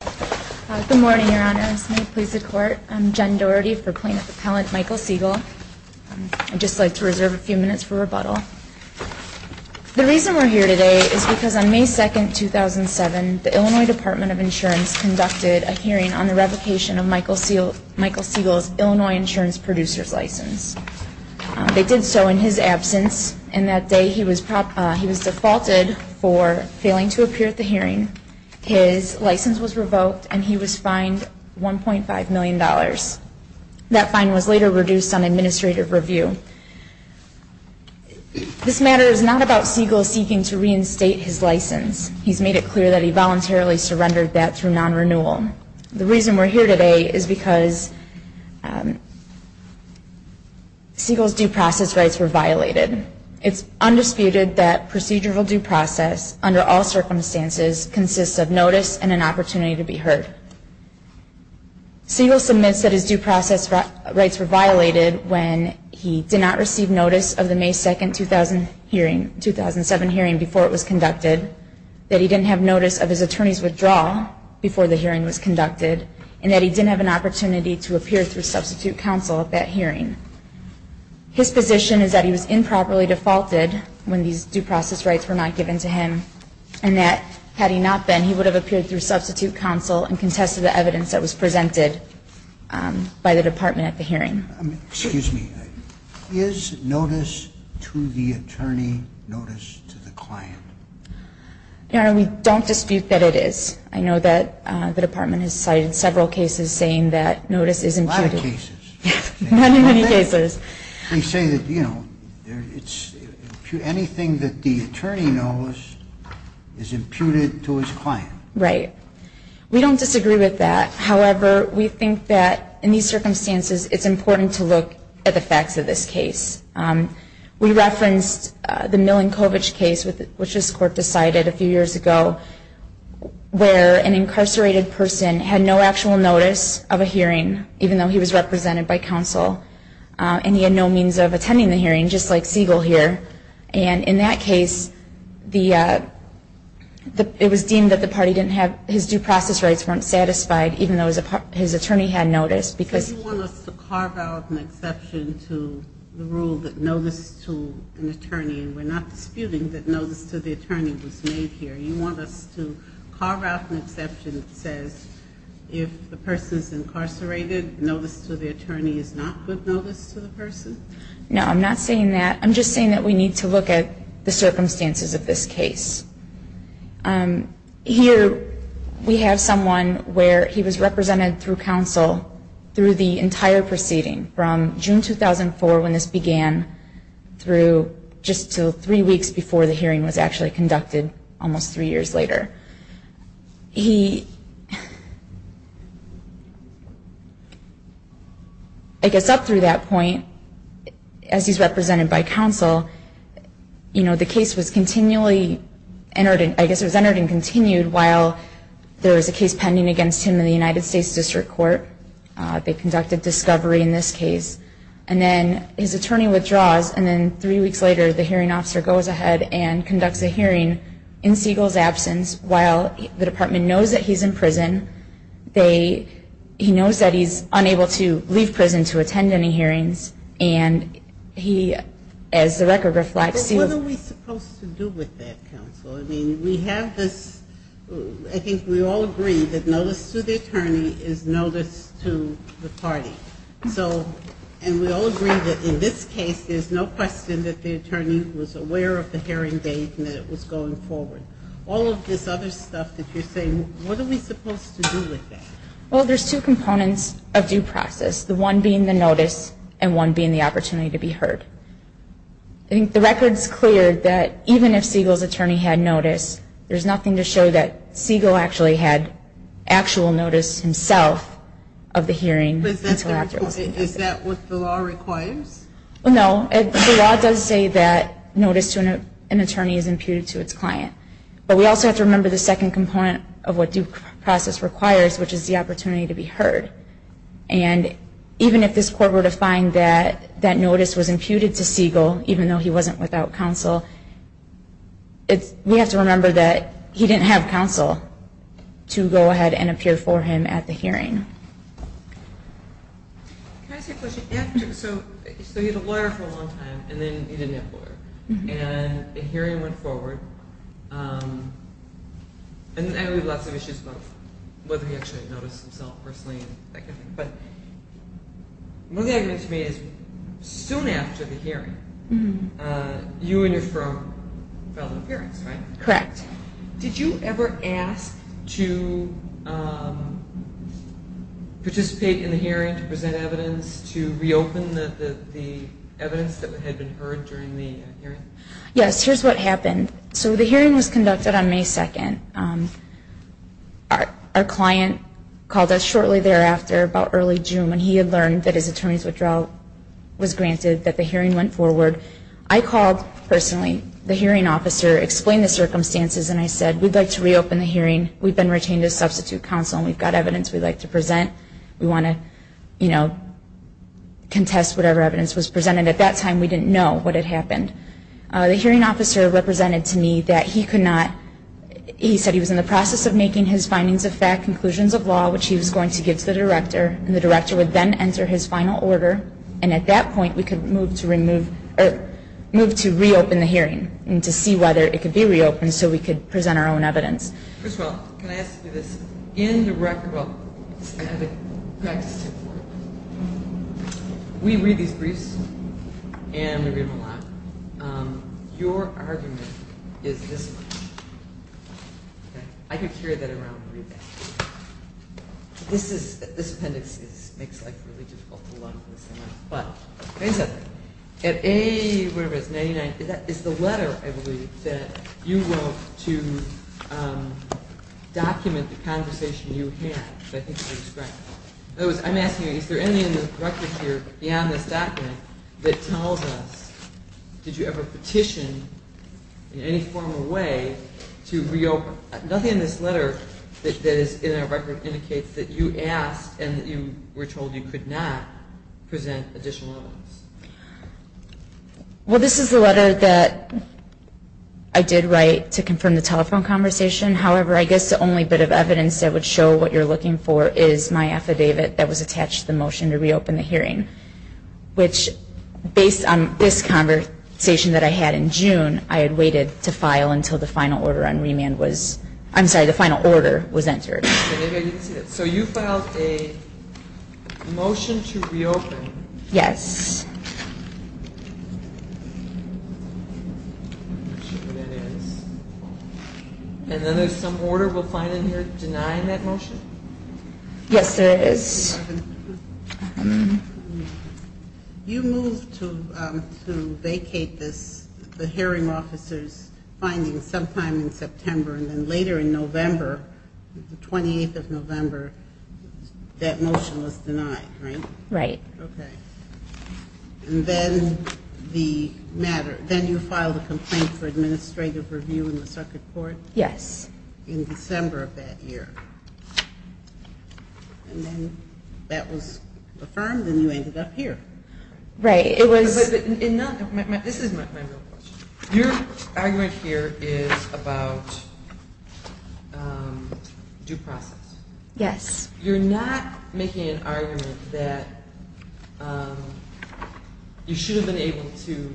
Good morning, Your Honors. May it please the Court, I'm Jen Doherty for Plaintiff Appellant Michael Segal. I'd just like to reserve a few minutes for rebuttal. The reason we're here today is because on May 2, 2007, the Illinois Department of Insurance conducted a hearing on the revocation of Michael Segal's Illinois insurance producer's license. They did so in his absence, and that day he was defaulted for failing to appear at the hearing. His license was revoked, and he was fined $1.5 million. That fine was later reduced on administrative review. This matter is not about Segal seeking to reinstate his license. He's made it clear that he voluntarily surrendered that through non-renewal. The reason we're here today is because Segal's due process rights were violated. It's undisputed that procedural due process, under all circumstances, consists of notice and an opportunity to be heard. Segal submits that his due process rights were violated when he did not receive notice of the May 2, 2007 hearing before it was conducted, that he didn't have notice of his attorney's withdrawal before the hearing was conducted, and that he didn't have an opportunity to appear through substitute counsel at that hearing. His position is that he was improperly defaulted when these due process rights were not given to him, and that had he not been, he would have appeared through substitute counsel and contested the evidence that was presented by the department at the hearing. Excuse me. Is notice to the attorney notice to the client? Your Honor, we don't dispute that it is. I know that the department has cited several cases saying that notice is imputed. A lot of cases. Many, many cases. They say that, you know, anything that the attorney knows is imputed to his client. Right. We don't disagree with that. However, we think that in these circumstances it's important to look at the facts of this case. We referenced the Milankovitch case, which this Court decided a few years ago, where an incarcerated person had no actual notice of a hearing, even though he was represented by counsel, and he had no means of attending the hearing, just like Siegel here. And in that case, it was deemed that the party didn't have, his due process rights weren't satisfied, even though his attorney had notice. So you want us to carve out an exception to the rule that notice to an attorney, and we're not disputing that notice to the attorney was made here. You want us to carve out an exception that says if the person is incarcerated, notice to the attorney is not good notice to the person? No, I'm not saying that. I'm just saying that we need to look at the circumstances of this case. Here we have someone where he was represented through counsel through the entire proceeding, from June 2004 when this began through just until three weeks before the hearing was actually conducted, almost three years later. I guess up through that point, as he's represented by counsel, the case was continually entered, I guess it was entered and continued, while there was a case pending against him in the United States District Court. They conducted discovery in this case. And then his attorney withdraws, and then three weeks later, the hearing officer goes ahead and conducts a hearing in Siegel's absence. While the department knows that he's in prison, he knows that he's unable to leave prison to attend any hearings. And he, as the record reflects, But what are we supposed to do with that, counsel? I mean, we have this, I think we all agree that notice to the attorney is notice to the party. And we all agree that in this case, there's no question that the attorney was aware of the hearing date and that it was going forward. All of this other stuff that you're saying, what are we supposed to do with that? Well, there's two components of due process, the one being the notice and one being the opportunity to be heard. I think the record's clear that even if Siegel's attorney had notice, there's nothing to show that Siegel actually had actual notice himself of the hearing. Is that what the law requires? No. The law does say that notice to an attorney is imputed to its client. But we also have to remember the second component of what due process requires, which is the opportunity to be heard. And even if this court were to find that that notice was imputed to Siegel, even though he wasn't without counsel, we have to remember that he didn't have counsel to go ahead and appear for him at the hearing. Can I ask a question? So he had a lawyer for a long time, and then he didn't have a lawyer. And the hearing went forward. And I know we have lots of issues about whether he actually noticed himself personally. But one of the arguments to me is soon after the hearing, you and your firm filed an appearance, right? Correct. Did you ever ask to participate in the hearing to present evidence, to reopen the evidence that had been heard during the hearing? Yes. Here's what happened. So the hearing was conducted on May 2nd. Our client called us shortly thereafter, about early June, when he had learned that his attorney's withdrawal was granted, that the hearing went forward. I called personally, the hearing officer, explained the circumstances, and I said, we'd like to reopen the hearing. We've been retained as substitute counsel, and we've got evidence we'd like to present. We want to, you know, contest whatever evidence was presented. At that time, we didn't know what had happened. The hearing officer represented to me that he could not, he said he was in the process of making his findings of fact, conclusions of law, which he was going to give to the director. And the director would then enter his final order. And at that point, we could move to remove, or move to reopen the hearing and to see whether it could be reopened so we could present our own evidence. First of all, can I ask you this? In the record book, we read these briefs, and we read them aloud. Your argument is this one. I could carry that around and read that. This is, this appendix makes life really difficult to learn. But, at A, whatever it is, 99, is the letter, I believe, that you wrote to document the conversation you had, which I think you described. In other words, I'm asking you, is there anything in the records here, beyond this document, that tells us, did you ever petition in any formal way to reopen? Nothing in this letter that is in our record indicates that you asked and that you were told you could not present additional evidence. Well, this is the letter that I did write to confirm the telephone conversation. However, I guess the only bit of evidence that would show what you're looking for is my affidavit that was attached to the motion to reopen the hearing, which, based on this conversation that I had in June, I had waited to file until the final order on remand was, I'm sorry, the final order was entered. So you filed a motion to reopen. Yes. I'm not sure what that is. And then there's some order we'll find in here denying that motion? Yes, there is. You moved to vacate the hearing officer's findings sometime in September, and then later in November, the 28th of November, that motion was denied, right? Right. Okay. And then you filed a complaint for administrative review in the circuit court? Yes. In December of that year. And then that was affirmed, and you ended up here. Right. This is my real question. Your argument here is about due process. Yes. You're not making an argument that you should have been able to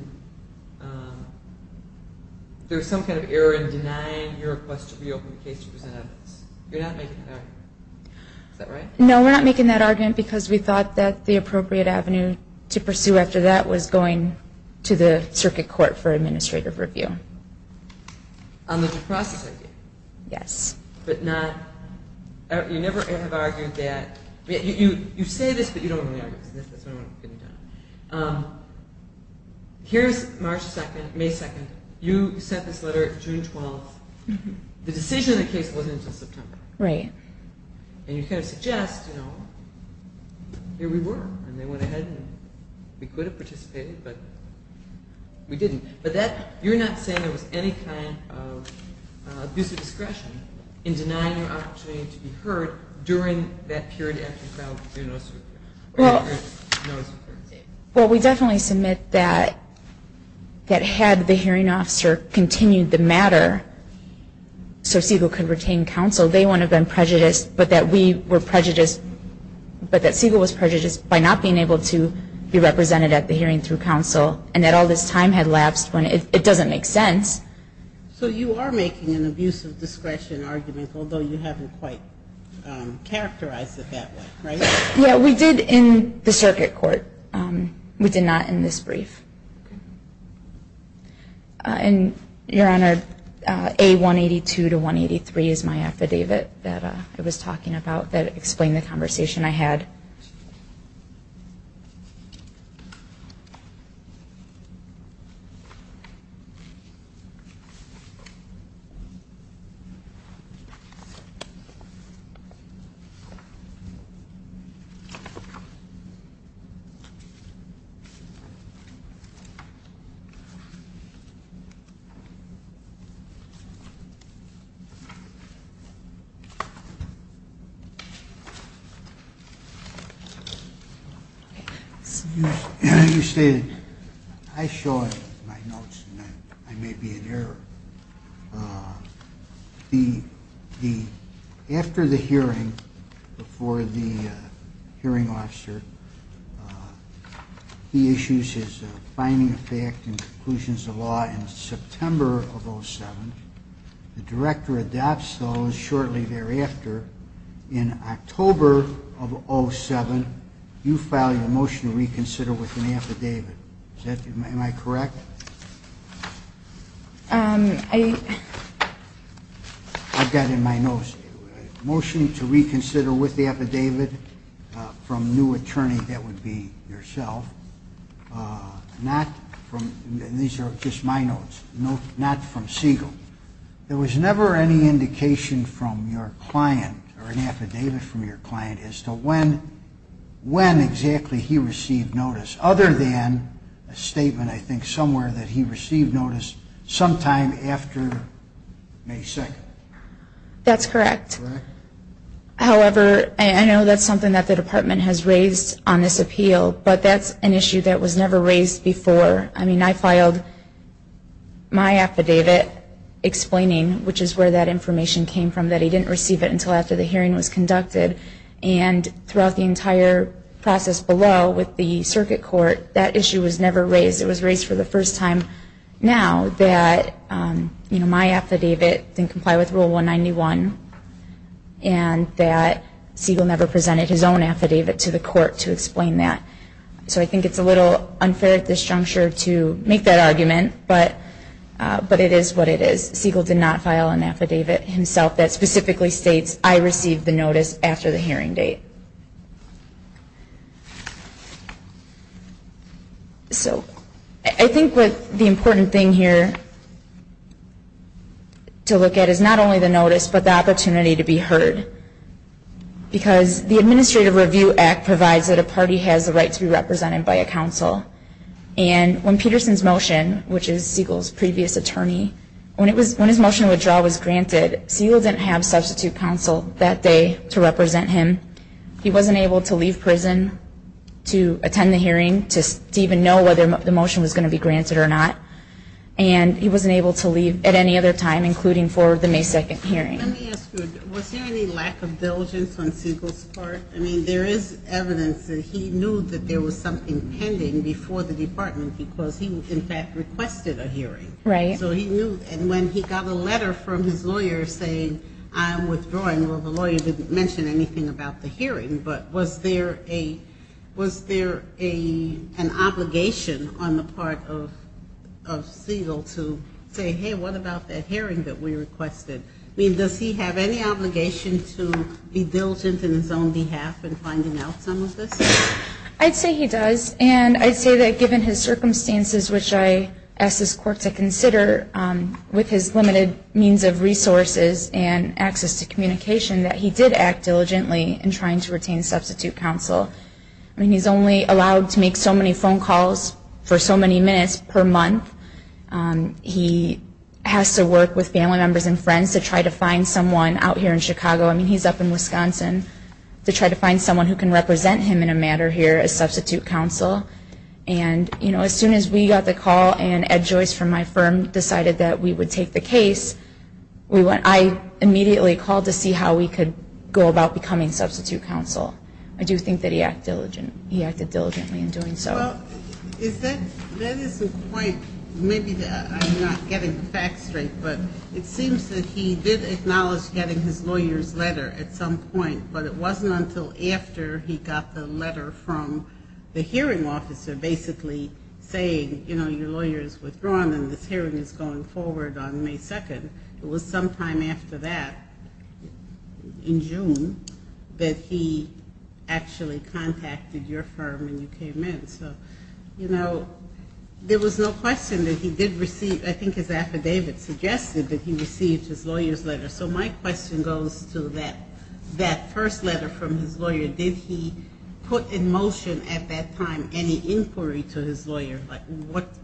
do some kind of error in denying your request to reopen the case to present evidence. You're not making that argument. Is that right? No, we're not making that argument because we thought that the appropriate avenue to pursue after that was going to the circuit court for administrative review. On the due process idea? Yes. You say this, but you don't really argue this. Here's March 2nd, May 2nd. You sent this letter June 12th. The decision of the case wasn't until September. Right. And you kind of suggest, you know, here we were, and they went ahead and we could have participated, but we didn't. But you're not saying there was any kind of abusive discretion in denying your opportunity to be heard during that period after you filed for your notice of appearance. Well, we definitely submit that had the hearing officer continued the matter so Segal could retain counsel, they wouldn't have been prejudiced, but that we were prejudiced, but that Segal was prejudiced by not being able to be represented at the hearing through counsel, and that all this time had lapsed when it doesn't make sense. So you are making an abusive discretion argument, although you haven't quite characterized it that way, right? Yeah, we did in the circuit court. We did not in this brief. And, Your Honor, A182 to 183 is my affidavit that I was talking about that explained the conversation I had. You stated, I show my notes and I may be in error. After the hearing, before the hearing officer, he issues his finding of fact and conclusions of law in September of 2007. The director adopts those shortly thereafter. In October of 2007, you file your motion to reconsider with an affidavit. Am I correct? I've got it in my notes. Motion to reconsider with the affidavit from new attorney, that would be yourself. Not from, these are just my notes, not from Siegel. There was never any indication from your client or an affidavit from your client as to when exactly he received notice, other than a statement, I think, somewhere that he received notice sometime after May 2nd. That's correct. However, I know that's something that the department has raised on this appeal, but that's an issue that was never raised before. I mean, I filed my affidavit explaining, which is where that information came from, that he didn't receive it until after the hearing was conducted. And throughout the entire process below with the circuit court, that issue was never raised. It was raised for the first time now that my affidavit didn't comply with Rule 191 and that Siegel never presented his own affidavit to the court to explain that. So I think it's a little unfair at this juncture to make that argument, but it is what it is. Siegel did not file an affidavit himself that specifically states, I received the notice after the hearing date. So I think the important thing here to look at is not only the notice, but the opportunity to be heard, because the Administrative Review Act provides that a party has the right to be represented by a counsel. And when Peterson's motion, which is Siegel's previous attorney, when his motion of withdrawal was granted, Siegel didn't have substitute counsel that day to represent him. He wasn't able to leave prison to attend the hearing, to even know whether the motion was going to be granted or not. And he wasn't able to leave at any other time, including for the May 2nd hearing. Let me ask you, was there any lack of diligence on Siegel's part? I mean, there is evidence that he knew that there was something pending before the department because he, in fact, requested a hearing. Right. So he knew, and when he got a letter from his lawyer saying, I'm withdrawing, well, the lawyer didn't mention anything about the hearing. But was there an obligation on the part of Siegel to say, hey, what about that hearing that we requested? I mean, does he have any obligation to be diligent in his own behalf in finding out some of this? I'd say he does. And I'd say that given his circumstances, which I asked this court to consider with his limited means of resources and access to communication, that he did act diligently in trying to retain substitute counsel. I mean, he's only allowed to make so many phone calls for so many minutes per month. He has to work with family members and friends to try to find someone out here in Chicago. I mean, he's up in Wisconsin to try to find someone who can represent him in a matter here as substitute counsel. And, you know, as soon as we got the call and Ed Joyce from my firm decided that we would take the case, I immediately called to see how we could go about becoming substitute counsel. I do think that he acted diligently in doing so. Well, that is the point. Maybe I'm not getting the facts straight, but it seems that he did acknowledge getting his lawyer's letter at some point, but it wasn't until after he got the letter from the hearing officer basically saying, you know, it was sometime after that, in June, that he actually contacted your firm and you came in. So, you know, there was no question that he did receive, I think his affidavit suggested that he received his lawyer's letter. So my question goes to that first letter from his lawyer. Did he put in motion at that time any inquiry to his lawyer, like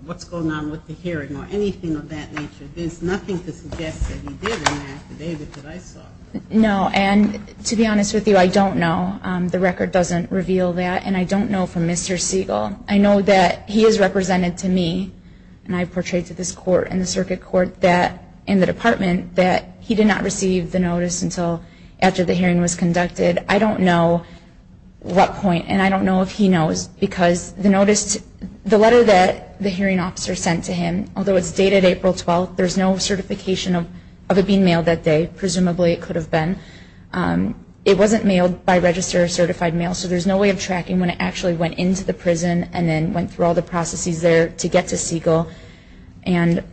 what's going on with the hearing or anything of that nature? There's nothing to suggest that he did in that affidavit that I saw. No. And to be honest with you, I don't know. The record doesn't reveal that. And I don't know from Mr. Siegel. I know that he is represented to me, and I portrayed to this court and the circuit court in the department, that he did not receive the notice until after the hearing was conducted. I don't know what point, and I don't know if he knows, because the notice, the letter that the hearing officer sent to him, although it's dated April 12th, there's no certification of it being mailed that day. Presumably it could have been. It wasn't mailed by registered or certified mail, so there's no way of tracking when it actually went into the prison and then went through all the processes there to get to Siegel. And,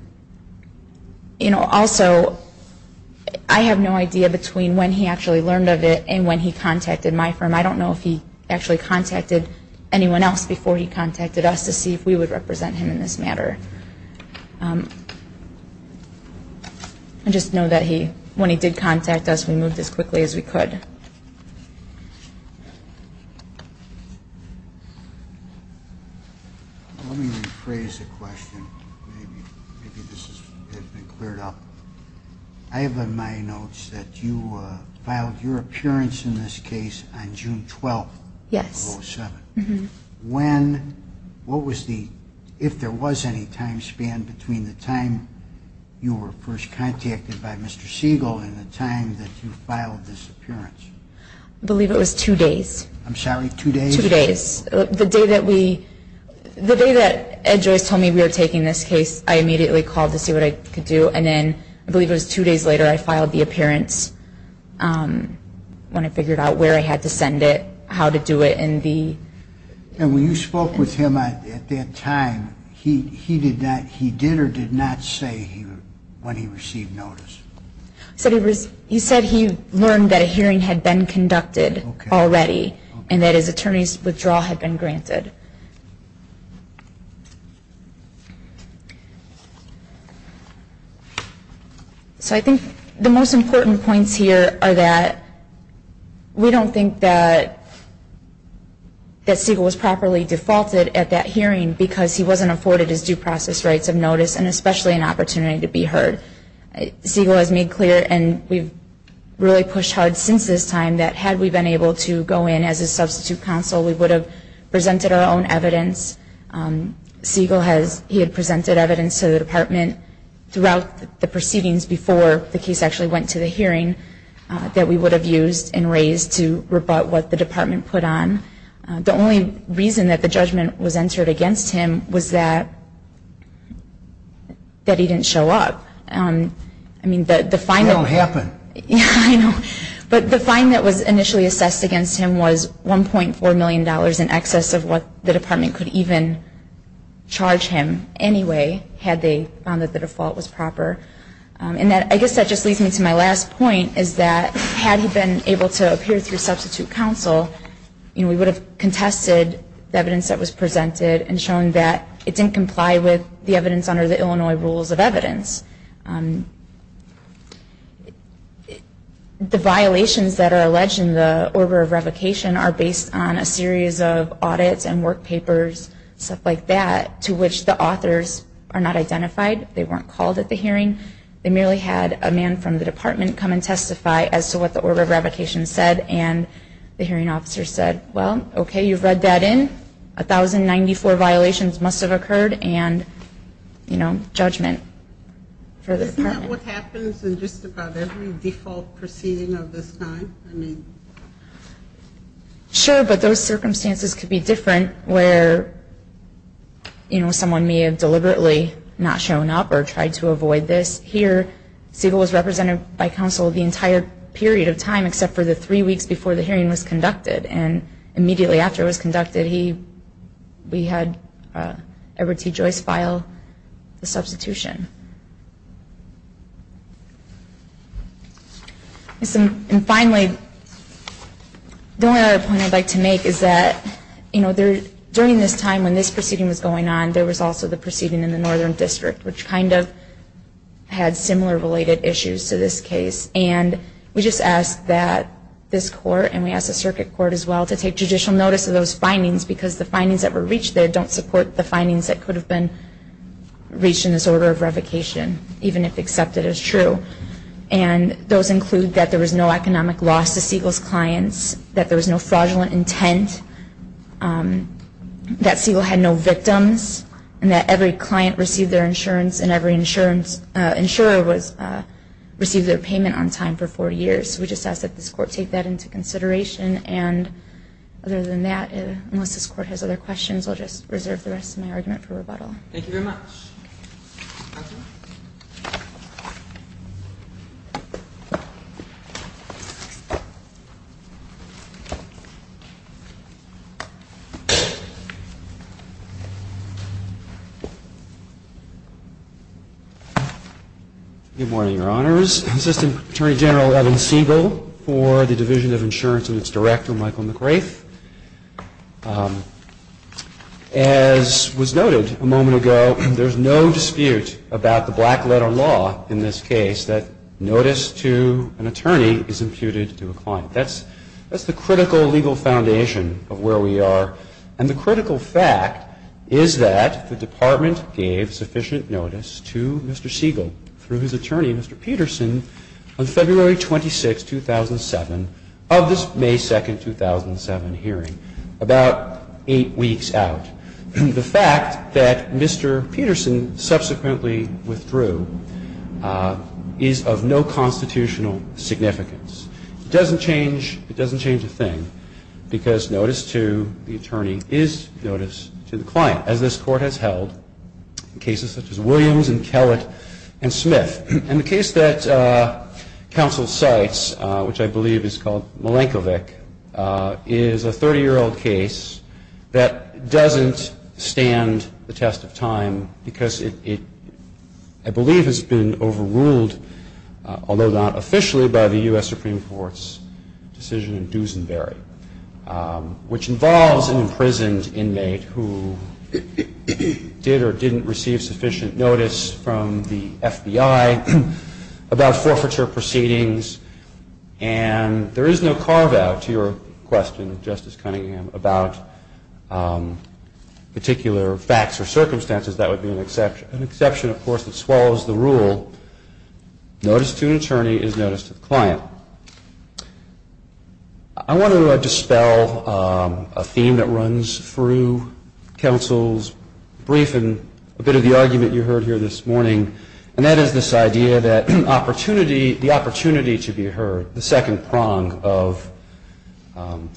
you know, also I have no idea between when he actually learned of it and when he contacted my firm. I don't know if he actually contacted anyone else before he contacted us to see if we would represent him in this matter. I just know that when he did contact us, we moved as quickly as we could. Let me rephrase the question. Maybe this has been cleared up. I have in my notes that you filed your appearance in this case on June 12th of 2007. Yes. When, what was the, if there was any time span between the time you were first contacted by Mr. Siegel and the time that you filed this appearance? I believe it was two days. I'm sorry, two days? Two days. The day that we, the day that Ed Joyce told me we were taking this case, I immediately called to see what I could do. And then I believe it was two days later I filed the appearance when I figured out where I had to send it, how to do it, and the... And when you spoke with him at that time, he did or did not say when he received notice? He said he learned that a hearing had been conducted already and that his attorney's withdrawal had been granted. So I think the most important points here are that we don't think that Siegel was properly defaulted at that hearing because he wasn't afforded his due process rights of notice and especially an opportunity to be heard. Siegel has made clear, and we've really pushed hard since this time, that had we been able to go in as a substitute counsel, we would have presented our own evidence. Siegel has, he had presented evidence to the department throughout the proceedings before the case actually went to the hearing that we would have used and raised to rebut what the department put on. The only reason that the judgment was entered against him was that he didn't show up. I mean, the fine... It all happened. But the fine that was initially assessed against him was $1.4 million in excess of what the department could even charge him anyway, had they found that the default was proper. And I guess that just leads me to my last point, is that had he been able to appear through substitute counsel, we would have contested the evidence that was presented and shown that it didn't comply with the evidence under the Illinois Rules of Evidence. The violations that are alleged in the order of revocation are based on a series of audits and work papers, stuff like that, to which the authors are not identified. They weren't called at the hearing. They merely had a man from the department come and testify as to what the order of revocation said, and the hearing officer said, well, okay, you've read that in. 1,094 violations must have occurred, and, you know, judgment for the department. Is that what happens in just about every default proceeding of this kind? Sure, but those circumstances could be different where, you know, someone may have deliberately not shown up or tried to avoid this. Here, Siegel was represented by counsel the entire period of time, except for the three weeks before the hearing was conducted, and immediately after it was conducted, we had Edward T. Joyce file the substitution. And finally, the only other point I'd like to make is that, you know, during this time when this proceeding was going on, there was also the proceeding in the Northern District, which kind of had similar related issues to this case, and we just ask that this court, and we ask the circuit court as well, to take judicial notice of those findings because the findings that were reached there don't support the findings that could have been reached in this order of revocation, even if accepted as true. And those include that there was no economic loss to Siegel's clients, that there was no fraudulent intent, that Siegel had no victims, and that every client received their insurance and every insurer received their payment on time for four years. We just ask that this court take that into consideration. And other than that, unless this court has other questions, I'll just reserve the rest of my argument for rebuttal. Thank you very much. Thank you. Good morning, Your Honors. Assistant Attorney General Evan Siegel for the Division of Insurance and its Director, Michael McGrath. As was noted a moment ago, there's no dispute about the black letter law in this case that notice to an attorney is imputed to a client. That's the critical legal foundation of where we are. And the critical fact is that the Department gave sufficient notice to Mr. Siegel through his attorney, Mr. Peterson, on February 26, 2007, of this May 2, 2007, hearing about eight weeks out. The fact that Mr. Peterson subsequently withdrew is of no constitutional significance. It doesn't change a thing because notice to the attorney is notice to the client, as this court has held in cases such as Williams and Kellett and Smith. And the case that counsel cites, which I believe is called Milankovic, is a 30-year-old case that doesn't stand the test of time because it, I believe, has been overruled, although not officially, by the U.S. Supreme Court's decision in Doosanbury, which involves an imprisoned inmate who did or didn't receive sufficient notice from the FBI about forfeiture proceedings. And there is no carve-out, to your question, Justice Cunningham, about particular facts or circumstances. That would be an exception, of course, that swallows the rule. Notice to an attorney is notice to the client. I want to dispel a theme that runs through counsel's brief and a bit of the argument you heard here this morning, and that is this idea that the opportunity to be heard, the second prong of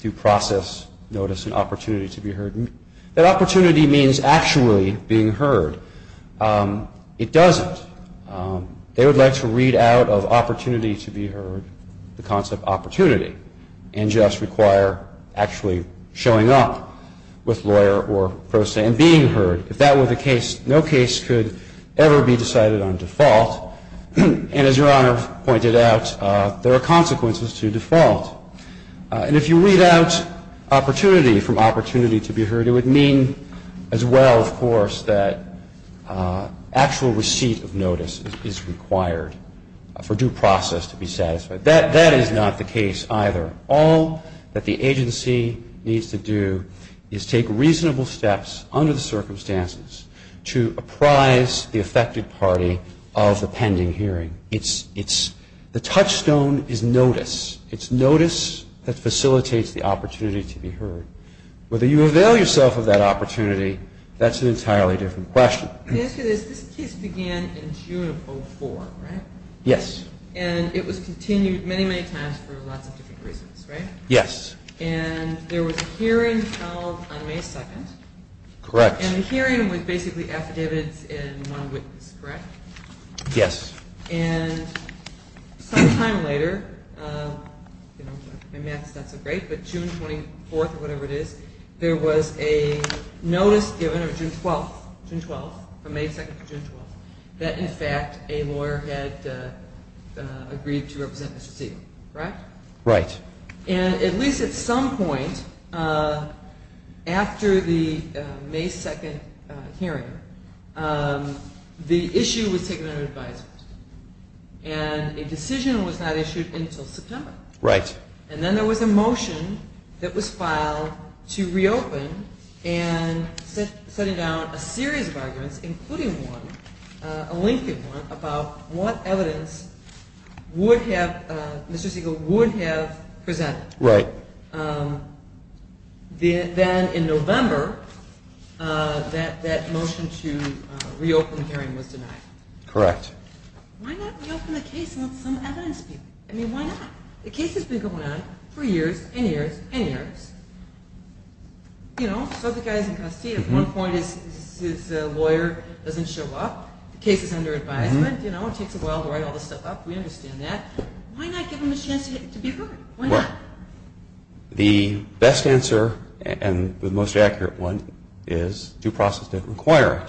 due process notice and opportunity to be heard, that opportunity means actually being heard. It doesn't. They would like to read out of opportunity to be heard the concept opportunity and just require actually showing up with lawyer or pro se and being heard. If that were the case, no case could ever be decided on default. And as Your Honor pointed out, there are consequences to default. And if you read out opportunity from opportunity to be heard, it would mean as well, of course, that actual receipt of notice is required for due process to be satisfied. That is not the case either. All that the agency needs to do is take reasonable steps under the circumstances to apprise the affected party of the pending hearing. It's the touchstone is notice. It's notice that facilitates the opportunity to be heard. Whether you avail yourself of that opportunity, that's an entirely different question. Let me ask you this. This case began in June of 2004, right? Yes. And it was continued many, many times for lots of different reasons, right? Yes. And there was a hearing held on May 2nd. Correct. And the hearing was basically affidavits in one witness, correct? Yes. And some time later, my math is not so great, but June 24th or whatever it is, there was a notice given on June 12th, from May 2nd to June 12th, that in fact a lawyer had agreed to represent Mr. Siegel, right? Right. And at least at some point after the May 2nd hearing, the issue was taken under advisement. And a decision was not issued until September. Right. And then there was a motion that was filed to reopen and setting down a series of arguments, including one, a lengthy one, about what evidence Mr. Siegel would have presented. Right. Then in November, that motion to reopen the hearing was denied. Correct. Why not reopen the case and let some evidence be? I mean, why not? The case has been going on for years and years and years. You know, so the guy is in custody. At one point his lawyer doesn't show up. The case is under advisement. You know, it takes a while to write all this stuff up. We understand that. Why not give him a chance to be heard? Why not? Well, the best answer and the most accurate one is due process didn't require it.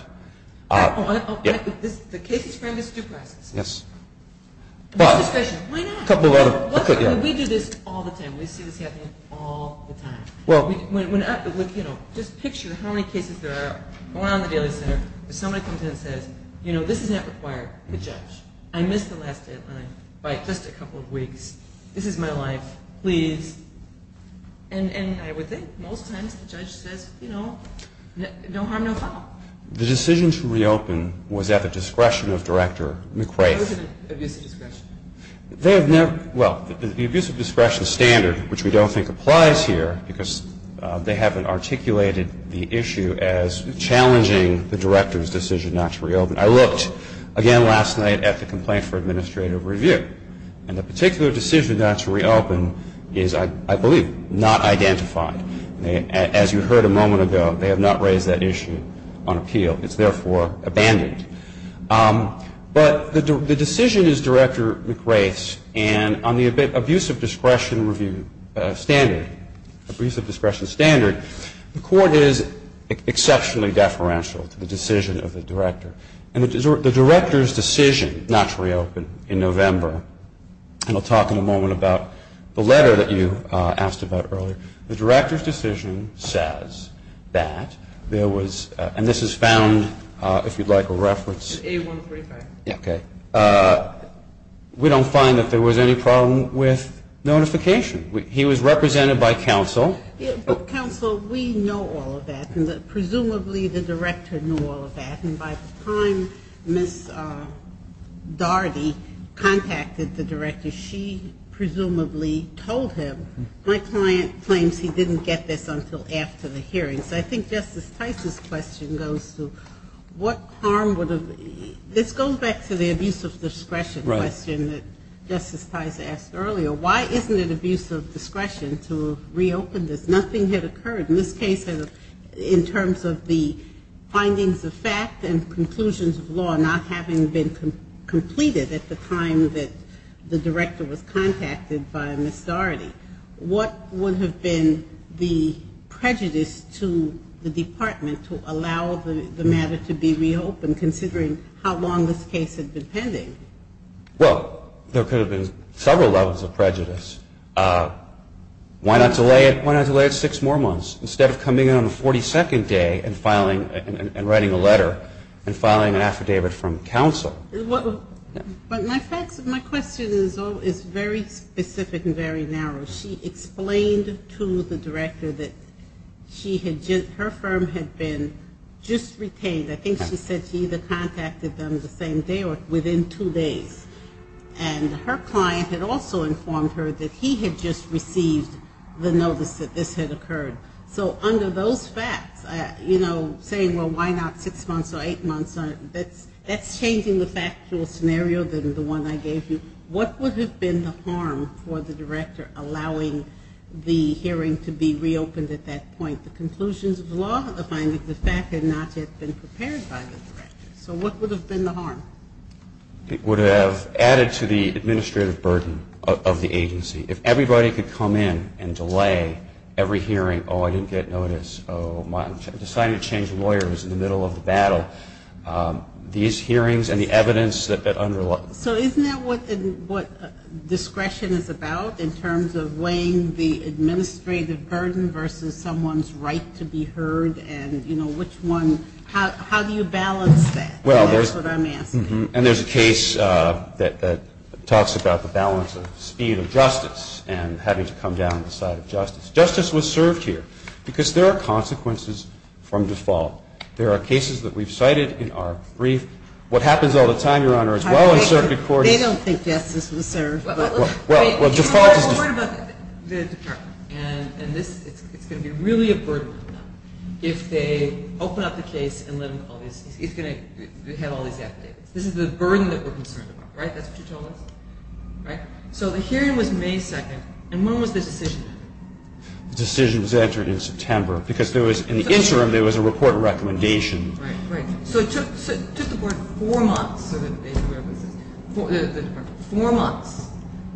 The case is framed as due process. Yes. Why not? We do this all the time. We see this happening all the time. Just picture how many cases there are around the daily center where somebody comes in and says, you know, this is not required. The judge. I missed the last deadline by just a couple of weeks. This is my life. Please. And I would think most times the judge says, you know, no harm, no foul. The decision to reopen was at the discretion of Director McRae. It was an abuse of discretion. Well, the abuse of discretion standard, which we don't think applies here, because they haven't articulated the issue as challenging the director's decision not to reopen. I looked again last night at the complaint for administrative review. And the particular decision not to reopen is, I believe, not identified. As you heard a moment ago, they have not raised that issue on appeal. It's therefore abandoned. But the decision is Director McRae's. And on the abuse of discretion review standard, abuse of discretion standard, the Court is exceptionally deferential to the decision of the director. And the director's decision not to reopen in November, and I'll talk in a moment about the letter that you asked about earlier, the director's decision says that there was, and this is found, if you'd like a reference. A135. Okay. We don't find that there was any problem with notification. He was represented by counsel. Counsel, we know all of that. Presumably the director knew all of that. And by the time Ms. Daugherty contacted the director, she presumably told him, my client claims he didn't get this until after the hearing. So I think Justice Tice's question goes to what harm would have, this goes back to the abuse of discretion question that Justice Tice asked earlier. Why isn't it abuse of discretion to reopen this? Nothing had occurred. In this case, in terms of the findings of fact and conclusions of law not having been completed at the time that the director was contacted by Ms. Daugherty, what would have been the prejudice to the department to allow the matter to be reopened, considering how long this case had been pending? Well, there could have been several levels of prejudice. Why not delay it six more months instead of coming in on the 42nd day and filing and writing a letter and filing an affidavit from counsel? My question is very specific and very narrow. She explained to the director that her firm had been just retained. I think she said she either contacted them the same day or within two days. And her client had also informed her that he had just received the notice that this had occurred. So under those facts, you know, saying, well, why not six months or eight months, that's changing the factual scenario than the one I gave you. What would have been the harm for the director allowing the hearing to be reopened at that point? The conclusions of the law, the findings of fact had not yet been prepared by the director. So what would have been the harm? It would have added to the administrative burden of the agency. If everybody could come in and delay every hearing, oh, I didn't get notice, oh, I decided to change lawyers in the middle of the battle. These hearings and the evidence that underlies it. So isn't that what discretion is about in terms of weighing the administrative burden versus someone's right to be heard and, you know, which one, how do you balance that? And that's what I'm asking. And there's a case that talks about the balance of speed of justice and having to come down to the side of justice. Justice was served here because there are consequences from default. There are cases that we've cited in our brief. What happens all the time, Your Honor, as well in circuit court is- They don't think justice was served. Well, default is- You're worried about the department. And it's going to be really a burden on them if they open up the case and let them call these. It's going to have all these affidavits. This is the burden that we're concerned about, right? That's what you told us, right? So the hearing was May 2nd, and when was the decision made? The decision was entered in September because there was- In the interim, there was a report of recommendation. Right, right. So it took the board four months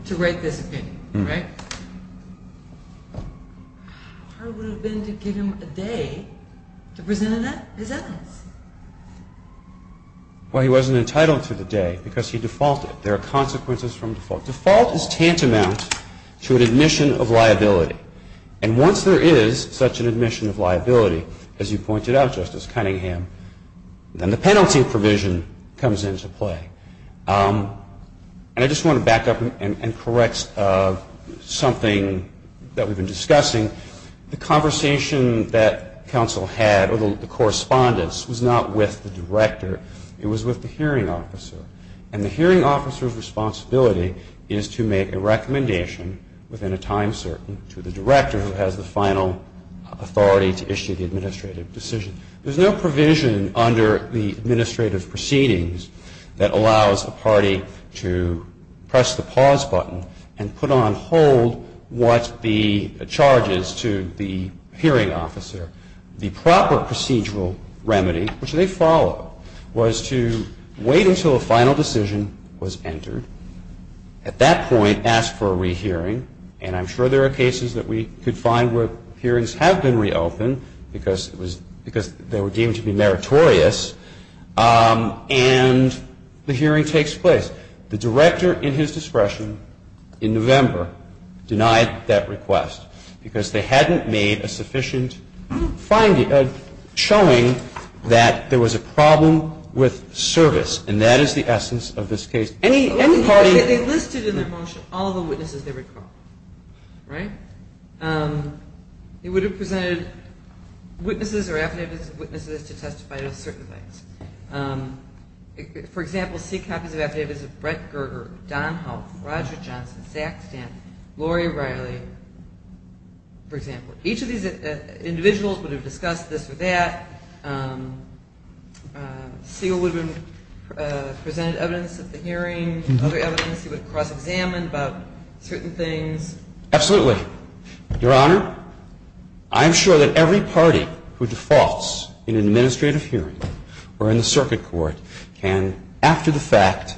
to write this opinion, right? How hard would it have been to give him a day to present his evidence? Well, he wasn't entitled to the day because he defaulted. There are consequences from default. Default is tantamount to an admission of liability. And once there is such an admission of liability, as you pointed out, Justice Cunningham, then the penalty provision comes into play. And I just want to back up and correct something that we've been discussing. The conversation that counsel had, or the correspondence, was not with the director. It was with the hearing officer. And the hearing officer's responsibility is to make a recommendation within a time certain to the director who has the final authority to issue the administrative decision. There's no provision under the administrative proceedings that allows a party to press the pause button and put on hold what the charge is to the hearing officer. The proper procedural remedy, which they follow, was to wait until a final decision was entered. At that point, ask for a rehearing. And I'm sure there are cases that we could find where hearings have been reopened because they were deemed to be meritorious, and the hearing takes place. The director, in his discretion, in November, denied that request because they hadn't made a sufficient showing that there was a problem with service. And that is the essence of this case. They listed in their motion all of the witnesses they recall. They would have presented witnesses or affidavits of witnesses to testify to certain things. For example, see copies of affidavits of Brett Gerger, Don Hough, Roger Johnson, Zach Stanton, Laurie Riley, for example. Each of these individuals would have discussed this or that. Segal would have presented evidence at the hearing. Other evidence he would have cross-examined about certain things. Absolutely. Your Honor, I am sure that every party who defaults in an administrative hearing or in the circuit court can, after the fact,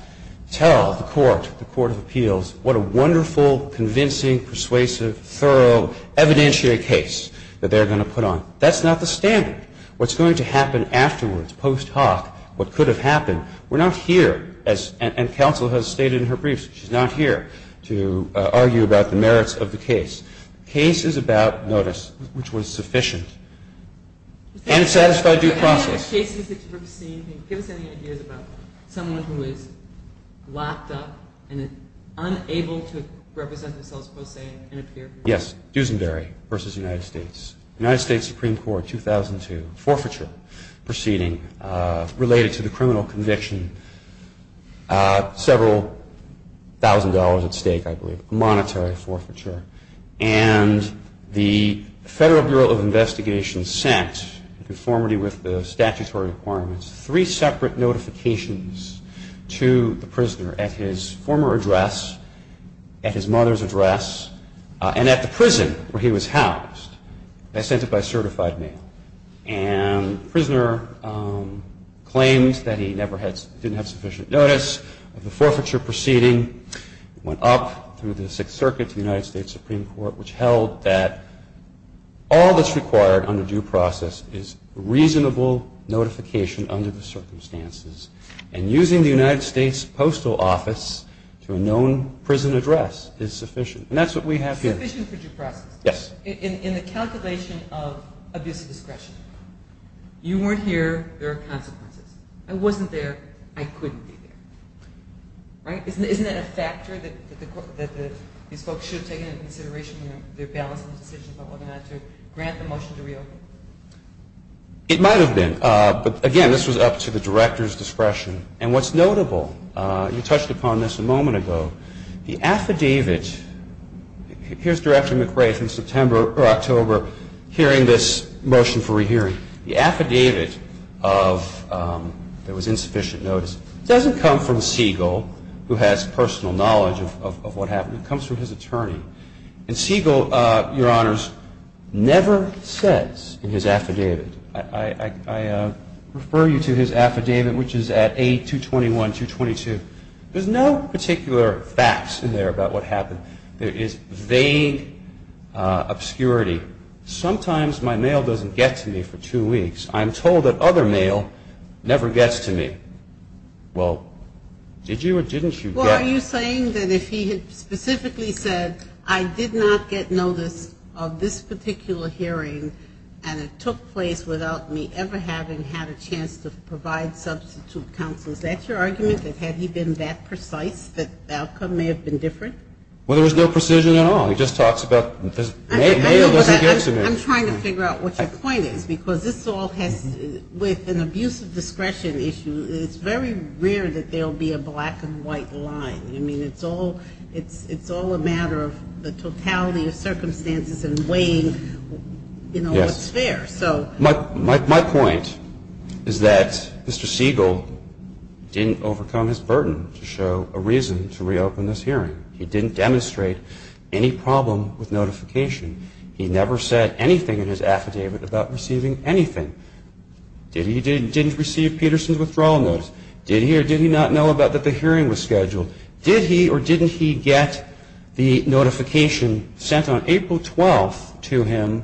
tell the court, the Court of Appeals, what a wonderful, convincing, persuasive, thorough, evidentiary case that they're going to put on. That's not the standard. What's going to happen afterwards, post hoc, what could have happened, we're not here, and counsel has stated in her briefs, she's not here to argue about the merits of the case. The case is about notice, which was sufficient. And it satisfied due process. Can you give us any ideas about someone who is locked up and unable to represent themselves, per se, and appear? Yes, Duesenberry v. United States. United States Supreme Court, 2002. Forfeiture proceeding related to the criminal conviction. Several thousand dollars at stake, I believe. Monetary forfeiture. And the Federal Bureau of Investigation sent, in conformity with the statutory requirements, three separate notifications to the prisoner at his former address, at his mother's address, and at the prison where he was housed. They sent it by certified mail. And the prisoner claimed that he didn't have sufficient notice of the forfeiture proceeding. It went up through the Sixth Circuit to the United States Supreme Court, which held that all that's required under due process is reasonable notification under the circumstances. And using the United States Postal Office to a known prison address is sufficient. And that's what we have here. Sufficient for due process. Yes. In the calculation of abuse of discretion, you weren't here, there are consequences. I wasn't there, I couldn't be there. Right? Isn't that a factor that these folks should have taken into consideration when they're balancing the decision about whether or not to grant the motion to reopen? It might have been. But, again, this was up to the director's discretion. And what's notable, you touched upon this a moment ago, the affidavit, here's Director McRae from September or October hearing this motion for rehearing. The affidavit that was insufficient notice doesn't come from Siegel, who has personal knowledge of what happened. It comes from his attorney. And Siegel, Your Honors, never says in his affidavit, I refer you to his affidavit, which is at 8-221-222. There's no particular facts in there about what happened. There is vague obscurity. Sometimes my mail doesn't get to me for two weeks. I'm told that other mail never gets to me. Well, did you or didn't you get? Well, are you saying that if he had specifically said, I did not get notice of this particular hearing, and it took place without me ever having had a chance to provide substitute counsel, is that your argument, that had he been that precise, the outcome may have been different? Well, there was no precision at all. He just talks about mail doesn't get to me. I'm trying to figure out what your point is. Because this all has, with an abuse of discretion issue, it's very rare that there will be a black and white line. I mean, it's all a matter of the totality of circumstances and weighing what's fair. Yes. My point is that Mr. Siegel didn't overcome his burden to show a reason to reopen this hearing. He didn't demonstrate any problem with notification. He never said anything in his affidavit about receiving anything. Did he or didn't he receive Peterson's withdrawal notice? Did he or did he not know about that the hearing was scheduled? Did he or didn't he get the notification sent on April 12th to him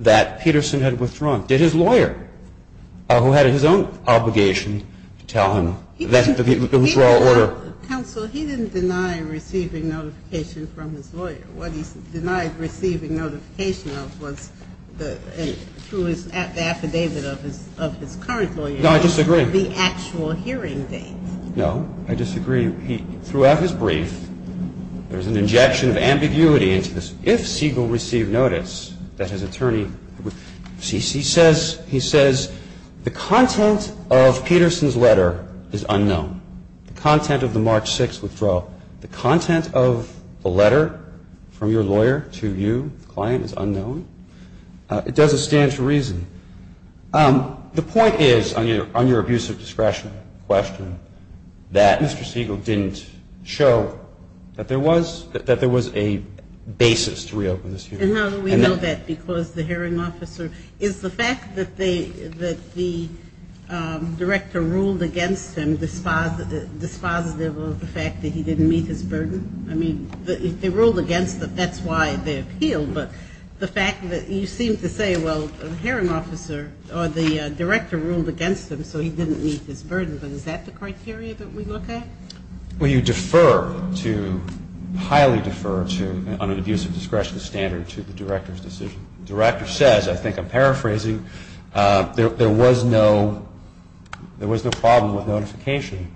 that Peterson had withdrawn? Did his lawyer, who had his own obligation to tell him that the withdrawal order? Counsel, he didn't deny receiving notification from his lawyer. What he denied receiving notification of was through his affidavit of his current lawyer. No, I disagree. The actual hearing date. No, I disagree. Throughout his brief, there's an injection of ambiguity into this, if Siegel received notice that his attorney would cease. He says the content of Peterson's letter is unknown, the content of the March 6th withdrawal. The content of the letter from your lawyer to you, the client, is unknown. It doesn't stand to reason. The point is, on your abuse of discretion question, that Mr. Siegel didn't show that there was a basis to reopen this hearing. And how do we know that? Because the hearing officer is the fact that the director ruled against him, dispositive of the fact that he didn't meet his burden? I mean, if they ruled against him, that's why they appealed. But the fact that you seem to say, well, the hearing officer or the director ruled against him so he didn't meet his burden, but is that the criteria that we look at? Well, you defer to, highly defer to, on an abuse of discretion standard to the director's decision. The director says, I think I'm paraphrasing, there was no problem with notification.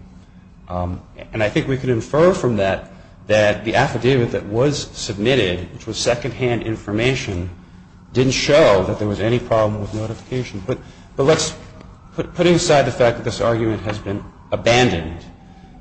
And I think we can infer from that that the affidavit that was submitted, which was secondhand information, didn't show that there was any problem with notification. But let's put inside the fact that this argument has been abandoned.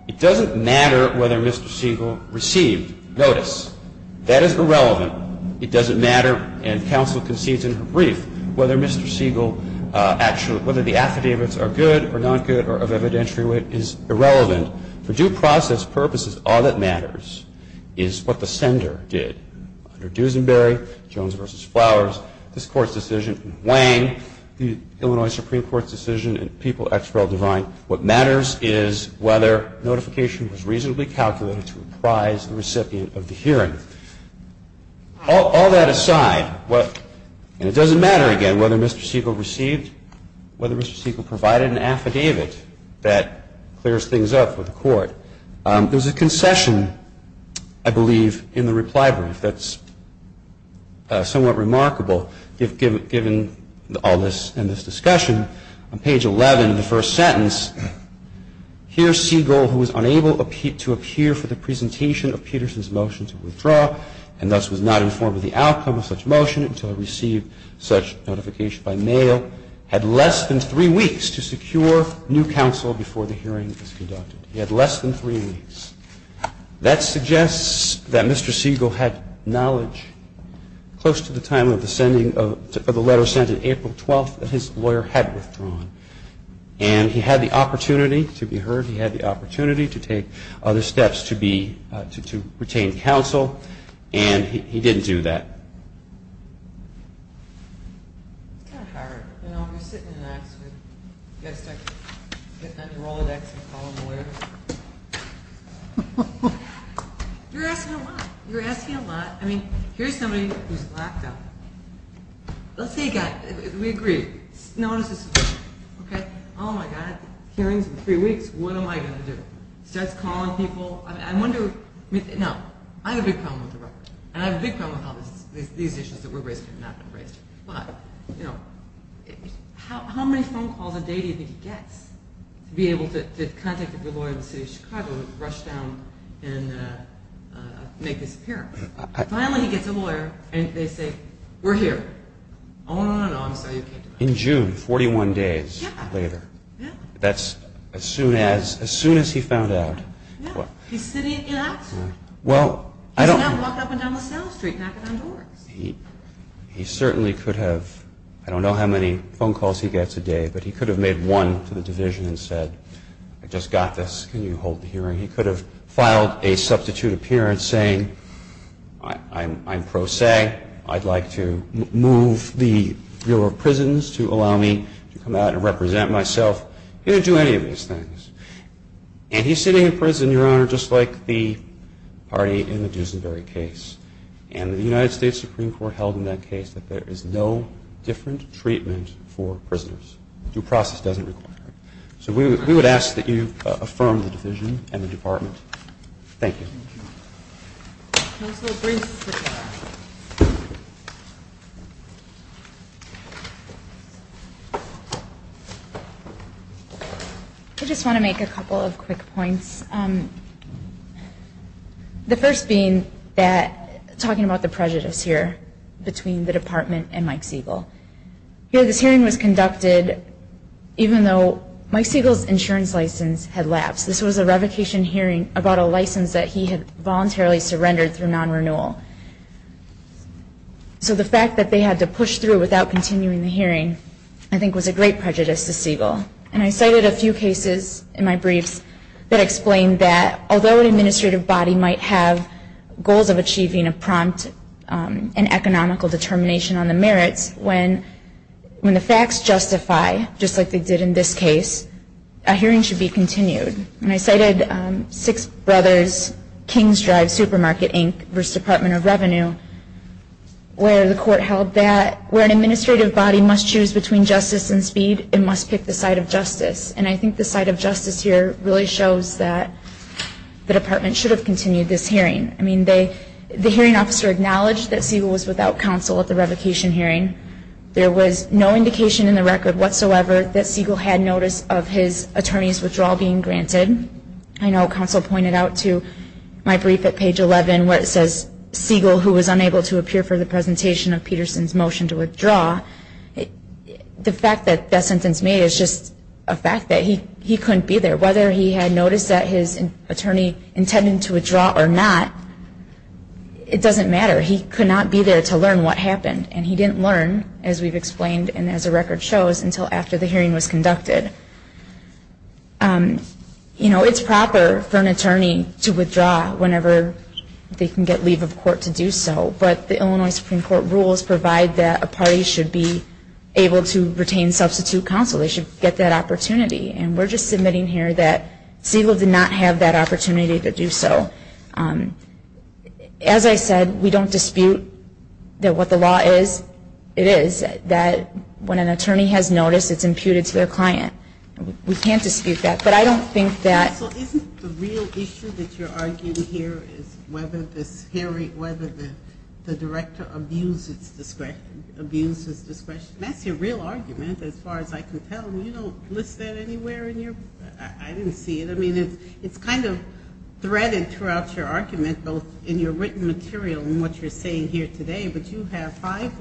It doesn't matter whether Mr. Siegel received notice. That is irrelevant. It doesn't matter, and counsel concedes in her brief, whether Mr. Siegel actually, whether the affidavits are good or not good or of evidentiary wit is irrelevant. For due process purposes, all that matters is what the sender did. Under Dusenberry, Jones v. Flowers, this Court's decision, and Wang, the Illinois Supreme Court's decision, and People, Expel, Divine, what matters is whether notification was reasonably calculated to reprise the recipient of the hearing. All that aside, and it doesn't matter, again, whether Mr. Siegel received, whether Mr. Siegel provided an affidavit that clears things up for the Court, there's a concession, I believe, in the reply brief that's somewhat remarkable, given all this and this discussion. On page 11 of the first sentence, here Siegel, who was unable to appear for the presentation of Peterson's motion to withdraw, and thus was not informed of the outcome of such motion until he received such notification by mail, had less than three weeks to secure new counsel before the hearing was conducted. He had less than three weeks. That suggests that Mr. Siegel had knowledge close to the time of the letter sent on April 12th that his lawyer had withdrawn. And he had the opportunity to be heard. He had the opportunity to take other steps to retain counsel. And he didn't do that. It's kind of hard. You know, you're sitting in an office. You've got to start getting on your Rolodex and calling the lawyer. You're asking a lot. You're asking a lot. I mean, here's somebody who's locked up. Let's say a guy. We agree. Notice this. Okay. Oh, my God. Hearing's in three weeks. What am I going to do? Start calling people. No. I have a big problem with the record. And I have a big problem with how these issues that were raised have not been raised. But, you know, how many phone calls a day do you think he gets to be able to contact a lawyer in the city of Chicago and rush down and make this appearance? Finally, he gets a lawyer, and they say, we're here. Oh, no, no, no. I'm sorry. You can't do that. In June, 41 days later. Yeah. That's as soon as he found out. Yeah. He's sitting in Oxford. Well, I don't. He's not walking up and down LaSalle Street knocking on doors. He certainly could have. I don't know how many phone calls he gets a day, but he could have made one to the division and said, I just got this. Can you hold the hearing? He could have filed a substitute appearance saying, I'm pro se. I'd like to move the Bureau of Prisons to allow me to come out and represent myself. He didn't do any of these things. And he's sitting in prison, Your Honor, just like the party in the Duesenberry case. And the United States Supreme Court held in that case that there is no different treatment for prisoners. Due process doesn't require it. So we would ask that you affirm the division and the department. Thank you. Counsel, please sit down. Thank you. I just want to make a couple of quick points. The first being that talking about the prejudice here between the department and Mike Siegel. This hearing was conducted even though Mike Siegel's insurance license had lapsed. This was a revocation hearing about a license that he had voluntarily surrendered through non-renewal. So the fact that they had to push through without continuing the hearing I think was a great prejudice to Siegel. And I cited a few cases in my briefs that explained that although an administrative body might have goals of achieving a prompt and economical determination on the merits, when the facts justify, just like they did in this case, a hearing should be continued. And I cited Six Brothers, Kings Drive Supermarket, Inc. v. Department of Revenue, where the court held that where an administrative body must choose between justice and speed, it must pick the side of justice. And I think the side of justice here really shows that the department should have continued this hearing. I mean, the hearing officer acknowledged that Siegel was without counsel at the revocation hearing. There was no indication in the record whatsoever that Siegel had notice of his attorney's withdrawal being granted. I know counsel pointed out to my brief at page 11 where it says, Siegel, who was unable to appear for the presentation of Peterson's motion to withdraw, the fact that that sentence made is just a fact that he couldn't be there. Whether he had notice that his attorney intended to withdraw or not, it doesn't matter. He could not be there to learn what happened, and he didn't learn, as we've explained and as the record shows, until after the hearing was conducted. You know, it's proper for an attorney to withdraw whenever they can get leave of court to do so, but the Illinois Supreme Court rules provide that a party should be able to retain substitute counsel. They should get that opportunity. And we're just submitting here that Siegel did not have that opportunity to do so. As I said, we don't dispute that what the law is. It is that when an attorney has notice, it's imputed to their client. We can't dispute that, but I don't think that... So isn't the real issue that you're arguing here is whether the director abuses discretion? That's your real argument, as far as I can tell. You don't list that anywhere in your... I didn't see it. I mean, it's kind of threaded throughout your argument, both in your written material and what you're saying here today, but you have five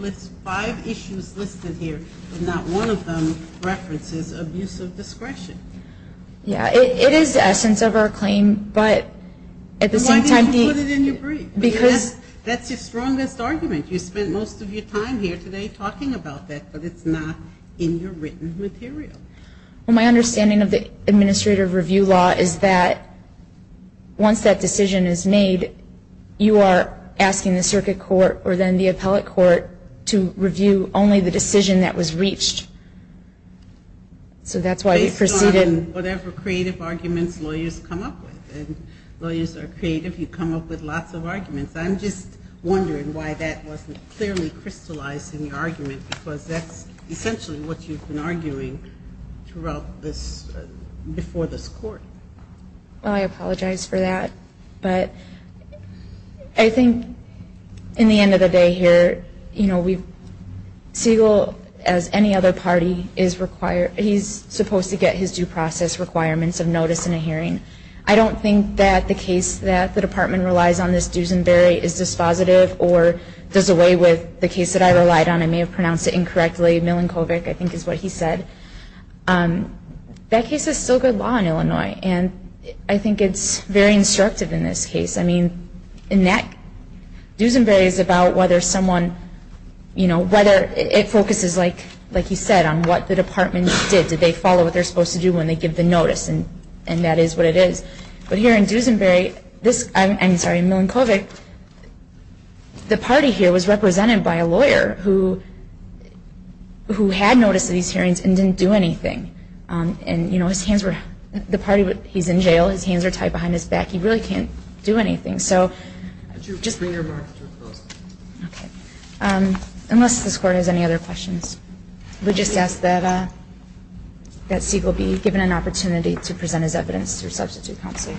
issues listed here, but not one of them references abuse of discretion. Yeah, it is the essence of our claim, but at the same time... Why didn't you put it in your brief? Because... That's your strongest argument. You spent most of your time here today talking about that, but it's not in your written material. Well, my understanding of the administrative review law is that once that decision is made, you are asking the circuit court or then the appellate court to review only the decision that was reached. So that's why we proceeded... Based on whatever creative arguments lawyers come up with, and lawyers are creative. You come up with lots of arguments. I'm just wondering why that wasn't clearly crystallized in your argument, because that's essentially what you've been arguing throughout this, before this court. Well, I apologize for that, but I think in the end of the day here, you know, Siegel, as any other party, is required... He's supposed to get his due process requirements of notice in a hearing. I don't think that the case that the department relies on this Duesenberry is dispositive or does away with the case that I relied on. I may have pronounced it incorrectly. Milankovic, I think, is what he said. That case is still good law in Illinois, and I think it's very instructive in this case. I mean, in that, Duesenberry is about whether someone, you know, whether... It focuses, like he said, on what the department did. Did they follow what they're supposed to do when they give the notice? And that is what it is. But here in Duesenberry, this, I'm sorry, Milankovic, the party here was represented by a lawyer who had notice of these hearings and didn't do anything. And, you know, his hands were... The party, he's in jail, his hands are tied behind his back, he really can't do anything. So, just... Bring your marker closer. Okay. Unless this court has any other questions. We just ask that Siegel be given an opportunity to present his evidence through substitute counsel.